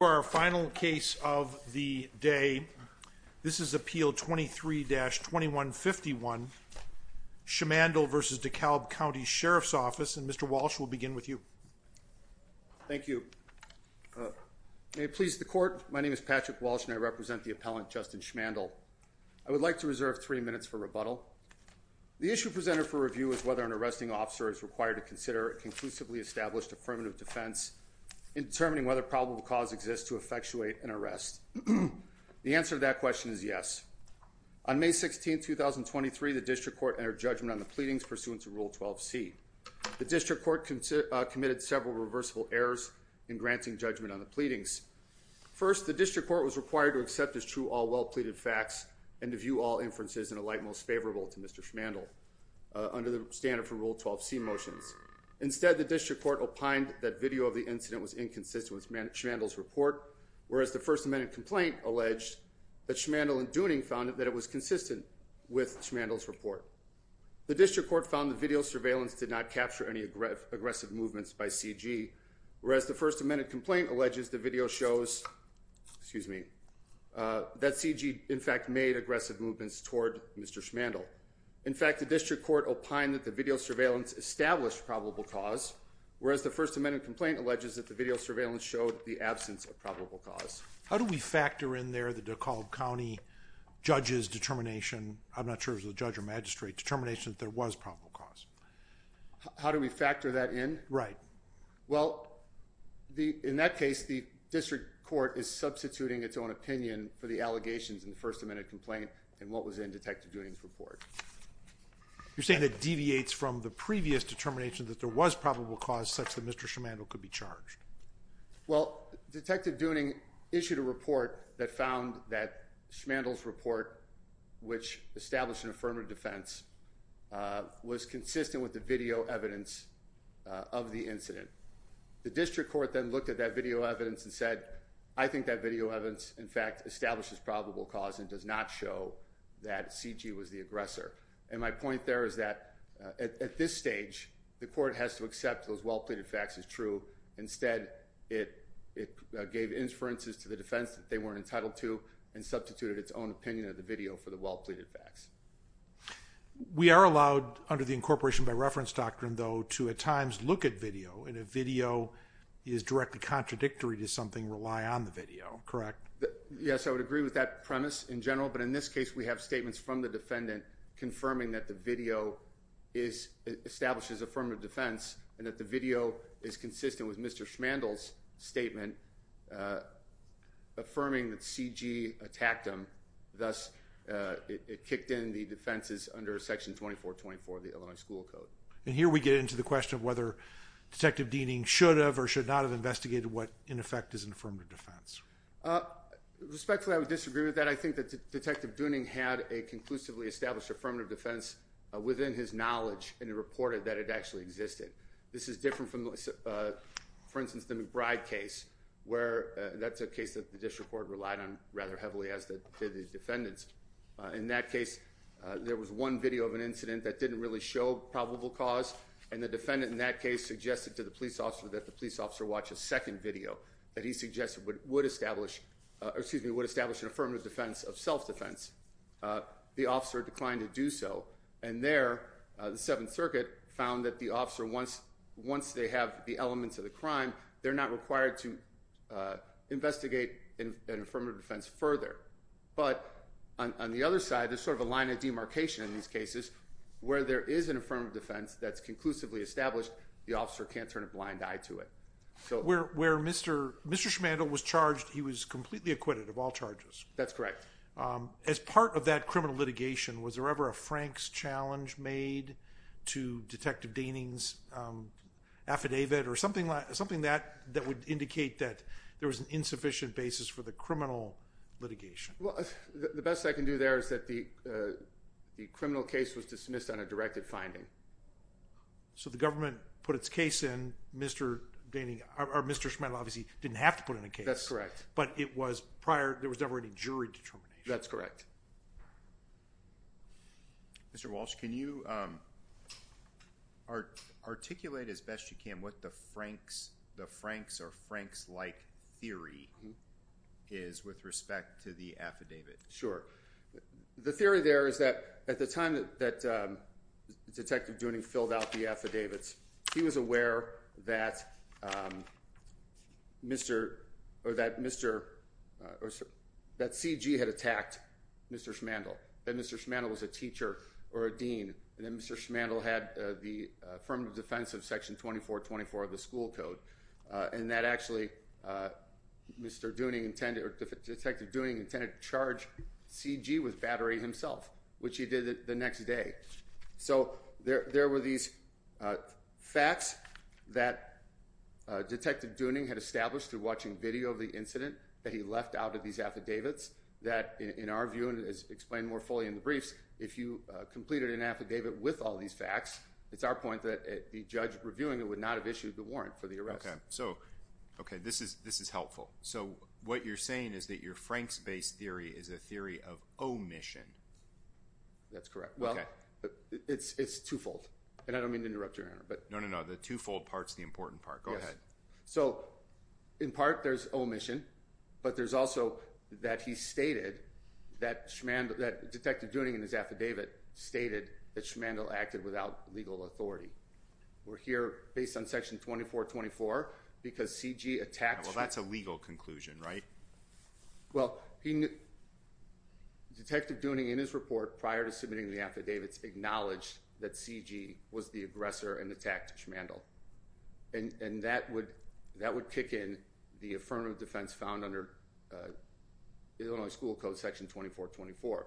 For our final case of the day, this is Appeal 23-2151, Schimandle v. DeKalb County Sheriff's Office and Mr. Walsh will begin with you. Thank you. May it please the Court, my name is Patrick Walsh and I represent the appellant Justin Schimandle. I would like to reserve three minutes for rebuttal. The issue presented for review is whether an arresting officer is required to consider a conclusively established affirmative defense in determining whether probable cause exists to effectuate an arrest. The answer to that question is yes. On May 16, 2023, the District Court entered judgment on the pleadings pursuant to Rule 12c. The District Court committed several reversible errors in granting judgment on the pleadings. First, the District Court was required to accept as true all well-pleaded facts and to view all inferences in a light most favorable to Mr. Schimandle under the standard for Rule 12c motions. Instead, the District Court opined that video of the incident was inconsistent with Schimandle's report, whereas the First Amendment complaint alleged that Schimandle and Dooning found that it was consistent with Schimandle's report. The District Court found that video surveillance did not capture any aggressive movements by CG, whereas the First Amendment complaint alleges that video shows that CG in fact made aggressive movements toward Mr. Schimandle. In fact, the District Court opined that the video surveillance established probable cause, whereas the First Amendment complaint alleges that the video surveillance showed the absence of probable cause. How do we factor in there the DeKalb County judge's determination, I'm not sure if it was a judge or magistrate, determination that there was probable cause? How do we factor that in? Right. Well, in that case, the District Court is substituting its own opinion for the allegations in the First Amendment complaint and what was in Detective Dooning's report. You're saying it deviates from the previous determination that there was probable cause such that Mr. Schimandle could be charged? Well, Detective Dooning issued a report that found that Schimandle's report, which established an affirmative defense, was consistent with the video evidence of the incident. The District Court then looked at that video evidence and said, I think that video evidence, in fact, establishes probable cause and does not show that C.G. was the aggressor. And my point there is that at this stage, the court has to accept those well-pleaded facts as true. Instead, it gave inferences to the defense that they weren't entitled to and substituted its own opinion of the video for the well-pleaded facts. We are allowed, under the incorporation by reference doctrine, though, to at times look at video. And if video is directly contradictory to something, rely on the video, correct? Yes, I would agree with that premise in general. But in this case, we have statements from the defendant confirming that the video establishes affirmative defense and that the video is consistent with Mr. Schimandle's statement affirming that C.G. attacked him. Thus, it kicked in the defenses under Section 2424 of the Illinois School Code. And here we get into the question of whether Detective Dooning should have or should not have investigated what, in effect, is an affirmative defense. Respectfully, I would disagree with that. I think that Detective Dooning had a conclusively established affirmative defense within his knowledge and he reported that it actually existed. This is different from, for instance, the McBride case, where that's a case that the district court relied on rather heavily, as did the defendants. In that case, there was one video of an incident that didn't really show probable cause. And the defendant in that case suggested to the police officer that the police officer watch a second video that he suggested would establish an affirmative defense of self-defense. The officer declined to do so. And there, the Seventh Circuit found that the officer, once they have the elements of the crime, they're not required to investigate an affirmative defense further. But on the other side, there's sort of a line of demarcation in these cases. Where there is an affirmative defense that's conclusively established, the officer can't turn a blind eye to it. Where Mr. Schmandel was charged, he was completely acquitted of all charges. That's correct. As part of that criminal litigation, was there ever a Franks challenge made to Detective Dooning's affidavit or something that would indicate that there was an insufficient basis for the criminal litigation? The best I can do there is that the criminal case was dismissed on a directed finding. So, the government put its case in, Mr. Dooning, or Mr. Schmandel obviously didn't have to put in a case. That's correct. But it was prior, there was never any jury determination. That's correct. Mr. Walsh, can you articulate as best you can what the Franks or Franks-like theory is with respect to the affidavit? Sure. The theory there is that at the time that Detective Dooning filled out the affidavits, he was aware that CG had attacked Mr. Schmandel, that Mr. Schmandel was a teacher or a dean, and that Mr. Schmandel had the affirmative defense of Section 2424 of the school code, and that actually Detective Dooning intended to charge CG with battery himself, which he did the next day. So there were these facts that Detective Dooning had established through watching video of the incident that he left out of these affidavits that, in our view, and as explained more fully in the briefs, if you completed an affidavit with all these facts, it's our point that the judge reviewing it would not have issued the warrant for the arrest. So, okay, this is helpful. So what you're saying is that your Franks-based theory is a theory of omission. That's correct. Well, it's twofold, and I don't mean to interrupt your honor, but... No, no, no. The twofold part's the important part. Go ahead. So, in part, there's omission, but there's also that he stated that Detective Dooning in his affidavit stated that Schmandl acted without legal authority. We're here based on Section 2424 because CG attacked Schmandl. Well, that's a legal conclusion, right? Well, Detective Dooning, in his report prior to submitting the affidavits, acknowledged that CG was the aggressor and attacked Schmandl, and that would kick in the affirmative defense found under Illinois School Code, Section 2424,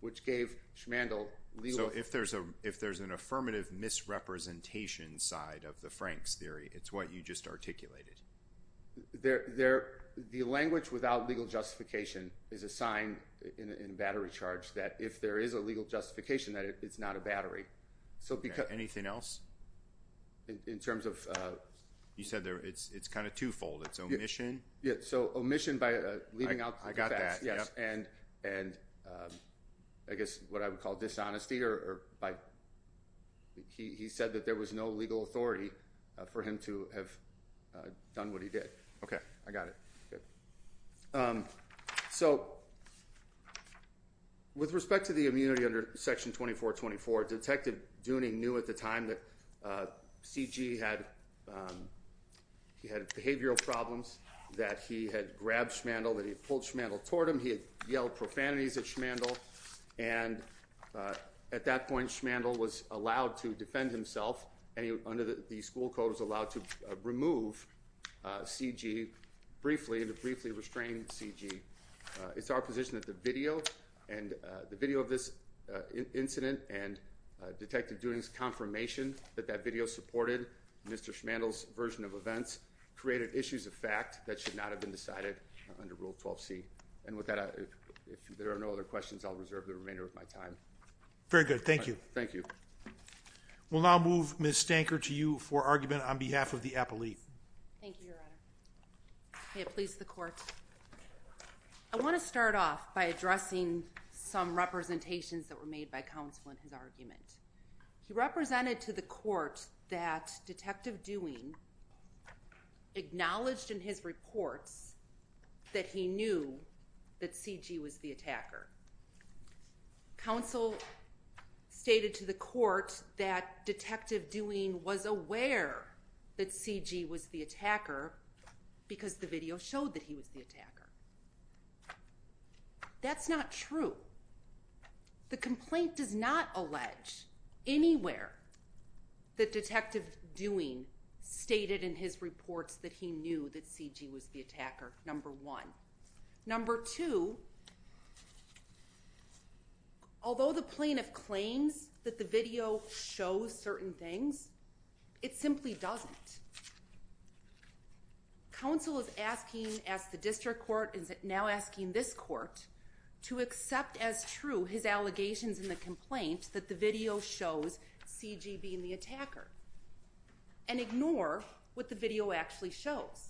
which gave Schmandl legal... So, if there's an affirmative misrepresentation side of the Franks theory, it's what you just articulated. The language without legal justification is assigned in battery charge that if there is a legal justification, that it's not a battery. Anything else? In terms of... You said it's kind of twofold, it's omission. Yeah. So, omission by leaving out... I got that. Yes. And, I guess, what I would call dishonesty, or by... He said that there was no legal authority for him to have done what he did. Okay. I got it. Good. So, with respect to the immunity under Section 2424, Detective Dooning knew at the time that he had grabbed Schmandl, that he had pulled Schmandl toward him, he had yelled profanities at Schmandl, and at that point, Schmandl was allowed to defend himself, and under the school code, was allowed to remove CG briefly, and to briefly restrain CG. It's our position that the video, and the video of this incident, and Detective Dooning's confirmation that that video supported Mr. Schmandl's version of events, created issues of fact that should not have been decided under Rule 12C. And with that, if there are no other questions, I'll reserve the remainder of my time. Very good. Thank you. Thank you. We'll now move Ms. Stanker to you for argument on behalf of the appellee. Thank you, Your Honor. Okay. Please, the court. I want to start off by addressing some representations that were made by counsel in his argument. He represented to the court that Detective Dooning acknowledged in his reports that he knew that CG was the attacker. Counsel stated to the court that Detective Dooning was aware that CG was the attacker because the video showed that he was the attacker. That's not true. The complaint does not allege anywhere that Detective Dooning stated in his reports that he knew that CG was the attacker, number one. Number two, although the plaintiff claims that the video shows certain things, it simply doesn't. Counsel is asking, as the district court is now asking this court, to accept as true his allegations in the complaint that the video shows CG being the attacker and ignore what the video actually shows.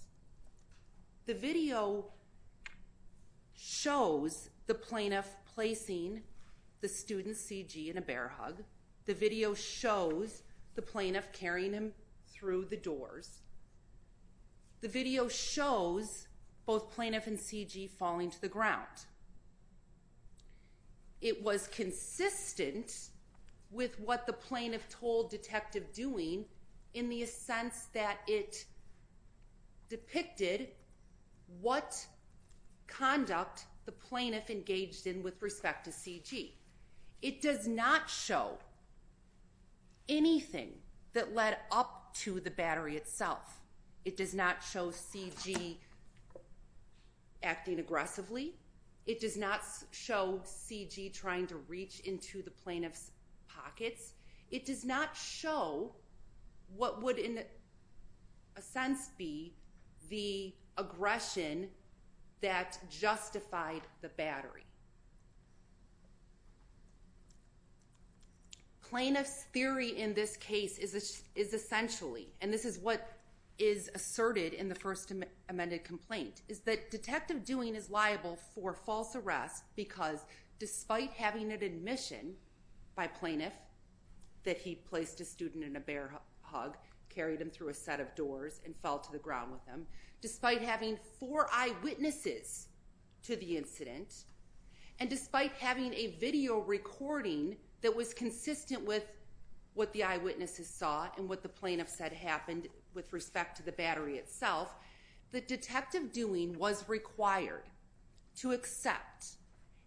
The video shows the plaintiff placing the student, CG, in a bear hug. The video shows the plaintiff carrying him through the doors. The video shows both plaintiff and CG falling to the ground. It was consistent with what the plaintiff told Detective Dooning in the sense that it depicted what conduct the plaintiff engaged in with respect to CG. It does not show anything that led up to the battery itself. It does not show CG acting aggressively. It does not show CG trying to reach into the plaintiff's pockets. It does not show what would, in a sense, be the aggression that justified the battery. Plaintiff's theory in this case is essentially, and this is what is asserted in the first amended complaint, is that Detective Dooning is liable for false arrest because despite having an admission by plaintiff that he placed a student in a bear hug, carried him through a set of doors, and fell to the ground with him, despite having four eyewitnesses to the incident, and despite having a video recording that was consistent with what the eyewitnesses saw and what the plaintiff said happened with respect to the battery itself, that Detective Dooning was required to accept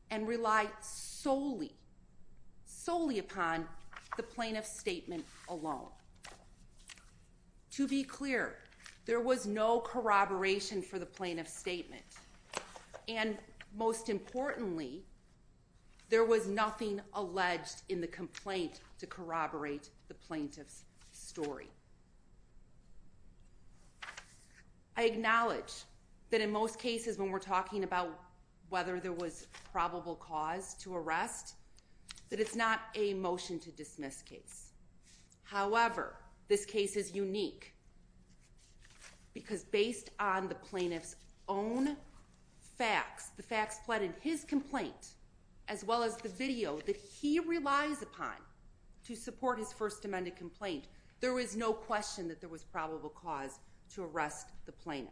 and rely solely, solely upon the plaintiff's statement alone. To be clear, there was no corroboration for the plaintiff's statement, and most importantly, there was nothing alleged in the complaint to corroborate the plaintiff's story. I acknowledge that in most cases when we're talking about whether there was probable cause to arrest, that it's not a motion to dismiss case. However, this case is unique because based on the plaintiff's own facts, the facts pleaded his complaint, as well as the video that he relies upon to support his first amended complaint, there was no question that there was probable cause to arrest the plaintiff.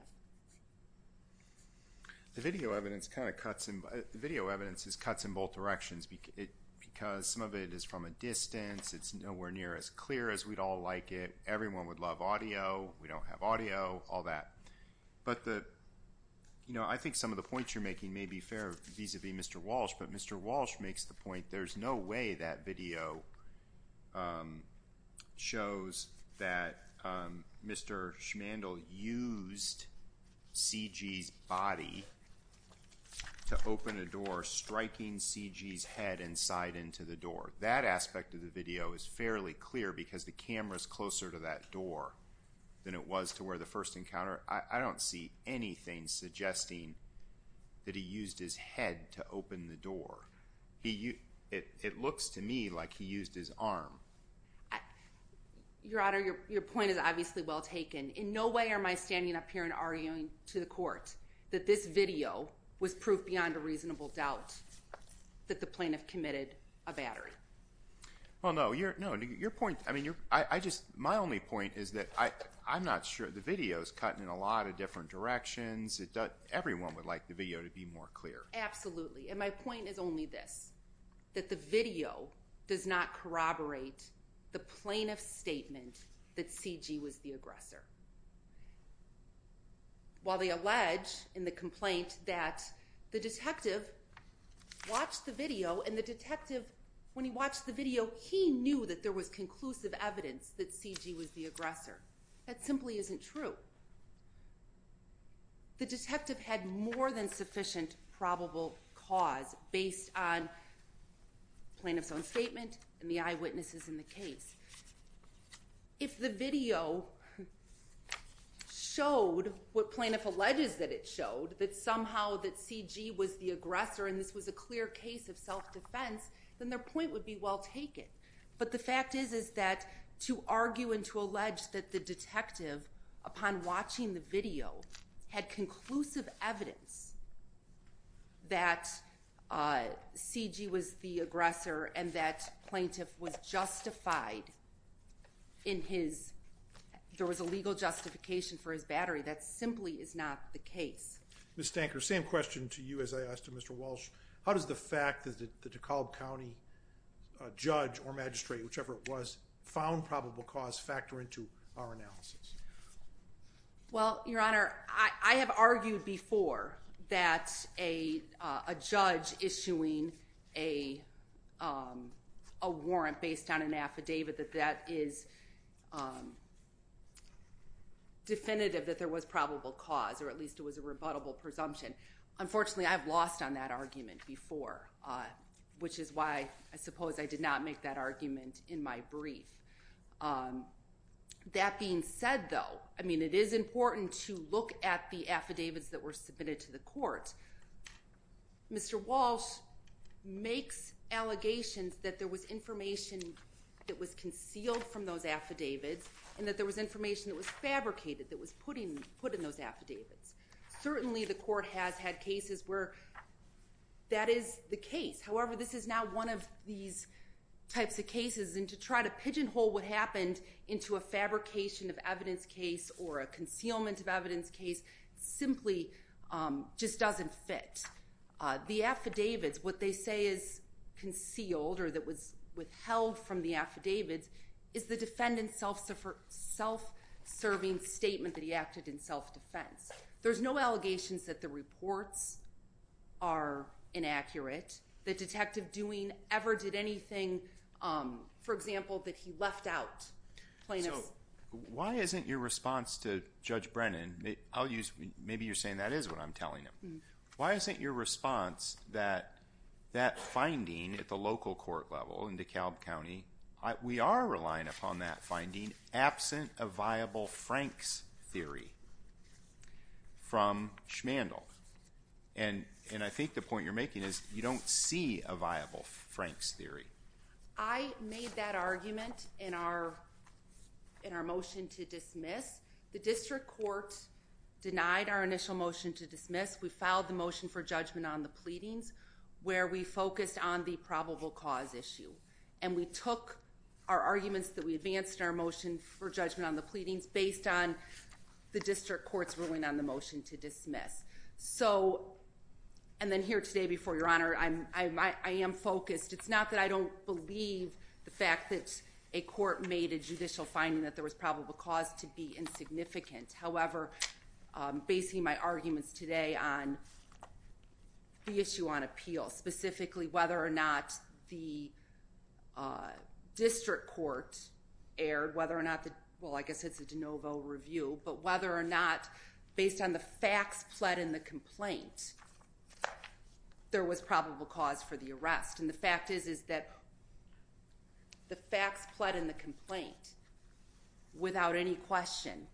The video evidence kind of cuts in both directions because some of it is from a distance, it's nowhere near as clear as we'd all like it, everyone would love audio, we don't have audio, all that. But I think some of the points you're making may be fair vis-a-vis Mr. Walsh, but Mr. Walsh makes the point there's no way that video shows that Mr. Schmandl used C.G.'s body to open a door, striking C.G.'s head and side into the door. That aspect of the video is fairly clear because the camera's closer to that door than it was to where the first encounter, I don't see anything suggesting that he used his head to open the door. It looks to me like he used his arm. Your Honor, your point is obviously well taken. In no way am I standing up here and arguing to the court that this video was proof beyond a reasonable doubt that the plaintiff committed a battery. Well, no, your point, I mean, I just, my only point is that I'm not sure, the video's cutting in a lot of different directions, everyone would like the video to be more clear. Absolutely, and my point is only this, that the video does not corroborate the plaintiff's statement that C.G. was the aggressor. While they allege in the complaint that the detective watched the video and the detective, when he watched the video, he knew that there was conclusive evidence that C.G. was the aggressor, that simply isn't true. The detective had more than sufficient probable cause based on plaintiff's own statement and the eyewitnesses in the case. If the video showed what plaintiff alleges that it showed, that somehow that C.G. was the aggressor and this was a clear case of self-defense, then their point would be well taken. But the fact is, is that to argue and to allege that the detective, upon watching the video, had conclusive evidence that C.G. was the aggressor and that plaintiff was justified in his, there was a legal justification for his battery, that simply is not the case. Ms. Stanker, same question to you as I asked to Mr. Walsh, how does the fact that the DeKalb County judge or magistrate, whichever it was, found probable cause factor into our analysis? Well, Your Honor, I have argued before that a judge issuing a warrant based on an affidavit that that is definitive that there was probable cause, or at least it was a rebuttable presumption. Unfortunately, I've lost on that argument before, which is why I suppose I did not make that argument in my brief. That being said, though, I mean, it is important to look at the affidavits that were submitted to the court. Mr. Walsh makes allegations that there was information that was concealed from those affidavits and that there was information that was fabricated, that was put in those affidavits. Certainly, the court has had cases where that is the case. However, this is now one of these types of cases, and to try to pigeonhole what happened into a fabrication of evidence case or a concealment of evidence case simply just doesn't fit. The affidavits, what they say is concealed or that was withheld from the affidavits is the defendant's self-serving statement that he acted in self-defense. There's no allegations that the reports are inaccurate, the detective doing ever did anything, for example, that he left out plaintiffs. Why isn't your response to Judge Brennan, maybe you're saying that is what I'm telling him. Why isn't your response that that finding at the local court level in DeKalb County, we are relying upon that finding absent a viable Frank's theory from Schmandl? And I think the point you're making is you don't see a viable Frank's theory. I made that argument in our motion to dismiss. The district court denied our initial motion to dismiss. We filed the motion for judgment on the pleadings where we focused on the probable cause issue. And we took our arguments that we advanced our motion for judgment on the pleadings based on the district court's ruling on the motion to dismiss. So, and then here today before your honor, I am focused. It's not that I don't believe the fact that a court made a judicial finding that there was probable cause to be insignificant, however, basing my arguments today on the issue on appeal, specifically whether or not the district court aired, whether or not the, well, I guess it's a de novo review, but whether or not based on the facts pled in the complaint, there was probable cause for the arrest. And the fact is, is that the facts pled in the complaint without any question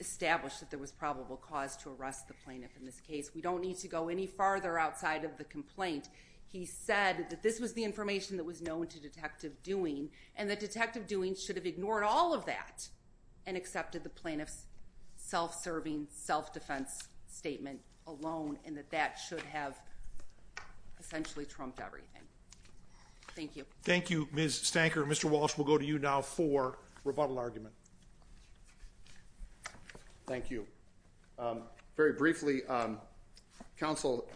established that there was probable cause to arrest the plaintiff in this case. We don't need to go any farther outside of the complaint. He said that this was the information that was known to detective doing and the detective doing should have ignored all of that and accepted the plaintiff's self-serving self-defense statement alone and that that should have essentially trumped everything. Thank you. Thank you, Ms. Stanker. Mr. Walsh, we'll go to you now for rebuttal argument. Thank you. Um, very briefly, um, counsel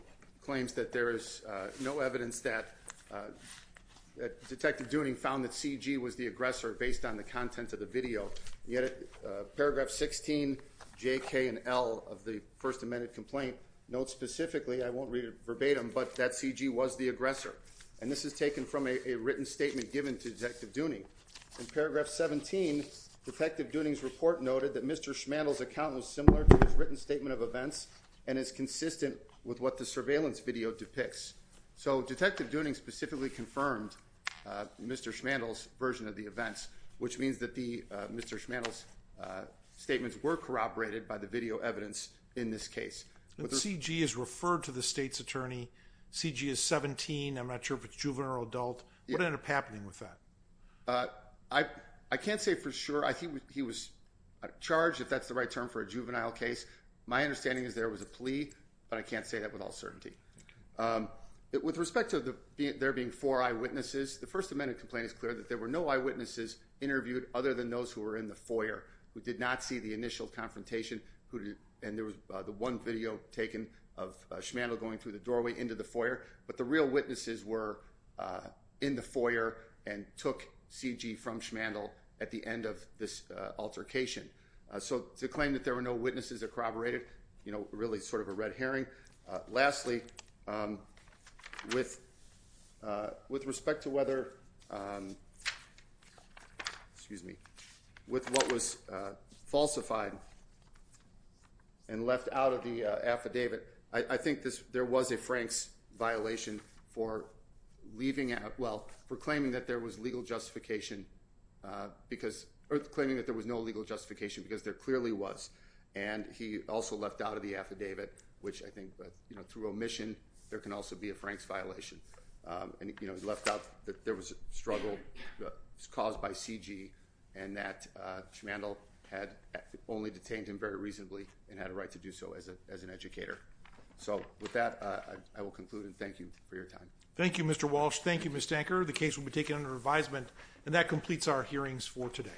claims that there is no evidence that, uh, that detective doing found that CG was the aggressor based on the content of the video. You had a paragraph 16, J, K, and L of the first amendment complaint notes specifically, I won't read it verbatim, but that CG was the aggressor. And this is taken from a written statement given to detective Dunning in paragraph 17, detective Dunning's report noted that Mr. Schmantle's account was similar to his written statement of events and is consistent with what the surveillance video depicts. So detective Dunning specifically confirmed, uh, Mr. Schmantle's version of the events, which means that the, uh, Mr. Schmantle's, uh, statements were corroborated by the video evidence in this case. CG is referred to the state's attorney. CG is 17. I'm not sure if it's juvenile or adult, what ended up happening with that? Uh, I, I can't say for sure. I think he was charged if that's the right term for a juvenile case. My understanding is there was a plea, but I can't say that with all certainty. Um, with respect to the, there being four eyewitnesses, the first amendment complaint is clear that there were no eyewitnesses interviewed other than those who were in the foyer who did not see the initial confrontation who, and there was the one video taken of Schmantle going through the doorway into the foyer, but the real witnesses were, uh, in the foyer and took CG from Schmantle at the end of this, uh, altercation. So to claim that there were no witnesses corroborated, you know, really sort of a red herring, uh, lastly, um, with, uh, with respect to whether, um, excuse me, with what was, uh, falsified and left out of the affidavit, I think this, there was a Frank's violation for leaving out. Well, for claiming that there was legal justification, uh, because claiming that there was no legal justification because there clearly was. And he also left out of the affidavit, which I think, but you know, through omission, there can also be a Frank's violation. Um, and you know, he left out that there was a struggle caused by CG and that, uh, Schmantle had only detained him very reasonably and had a right to do so as a, as an educator. So with that, uh, I will conclude and thank you for your time. Thank you, Mr. Walsh. Thank you, Ms. Stanker. The case will be taken under advisement and that completes our hearings for today.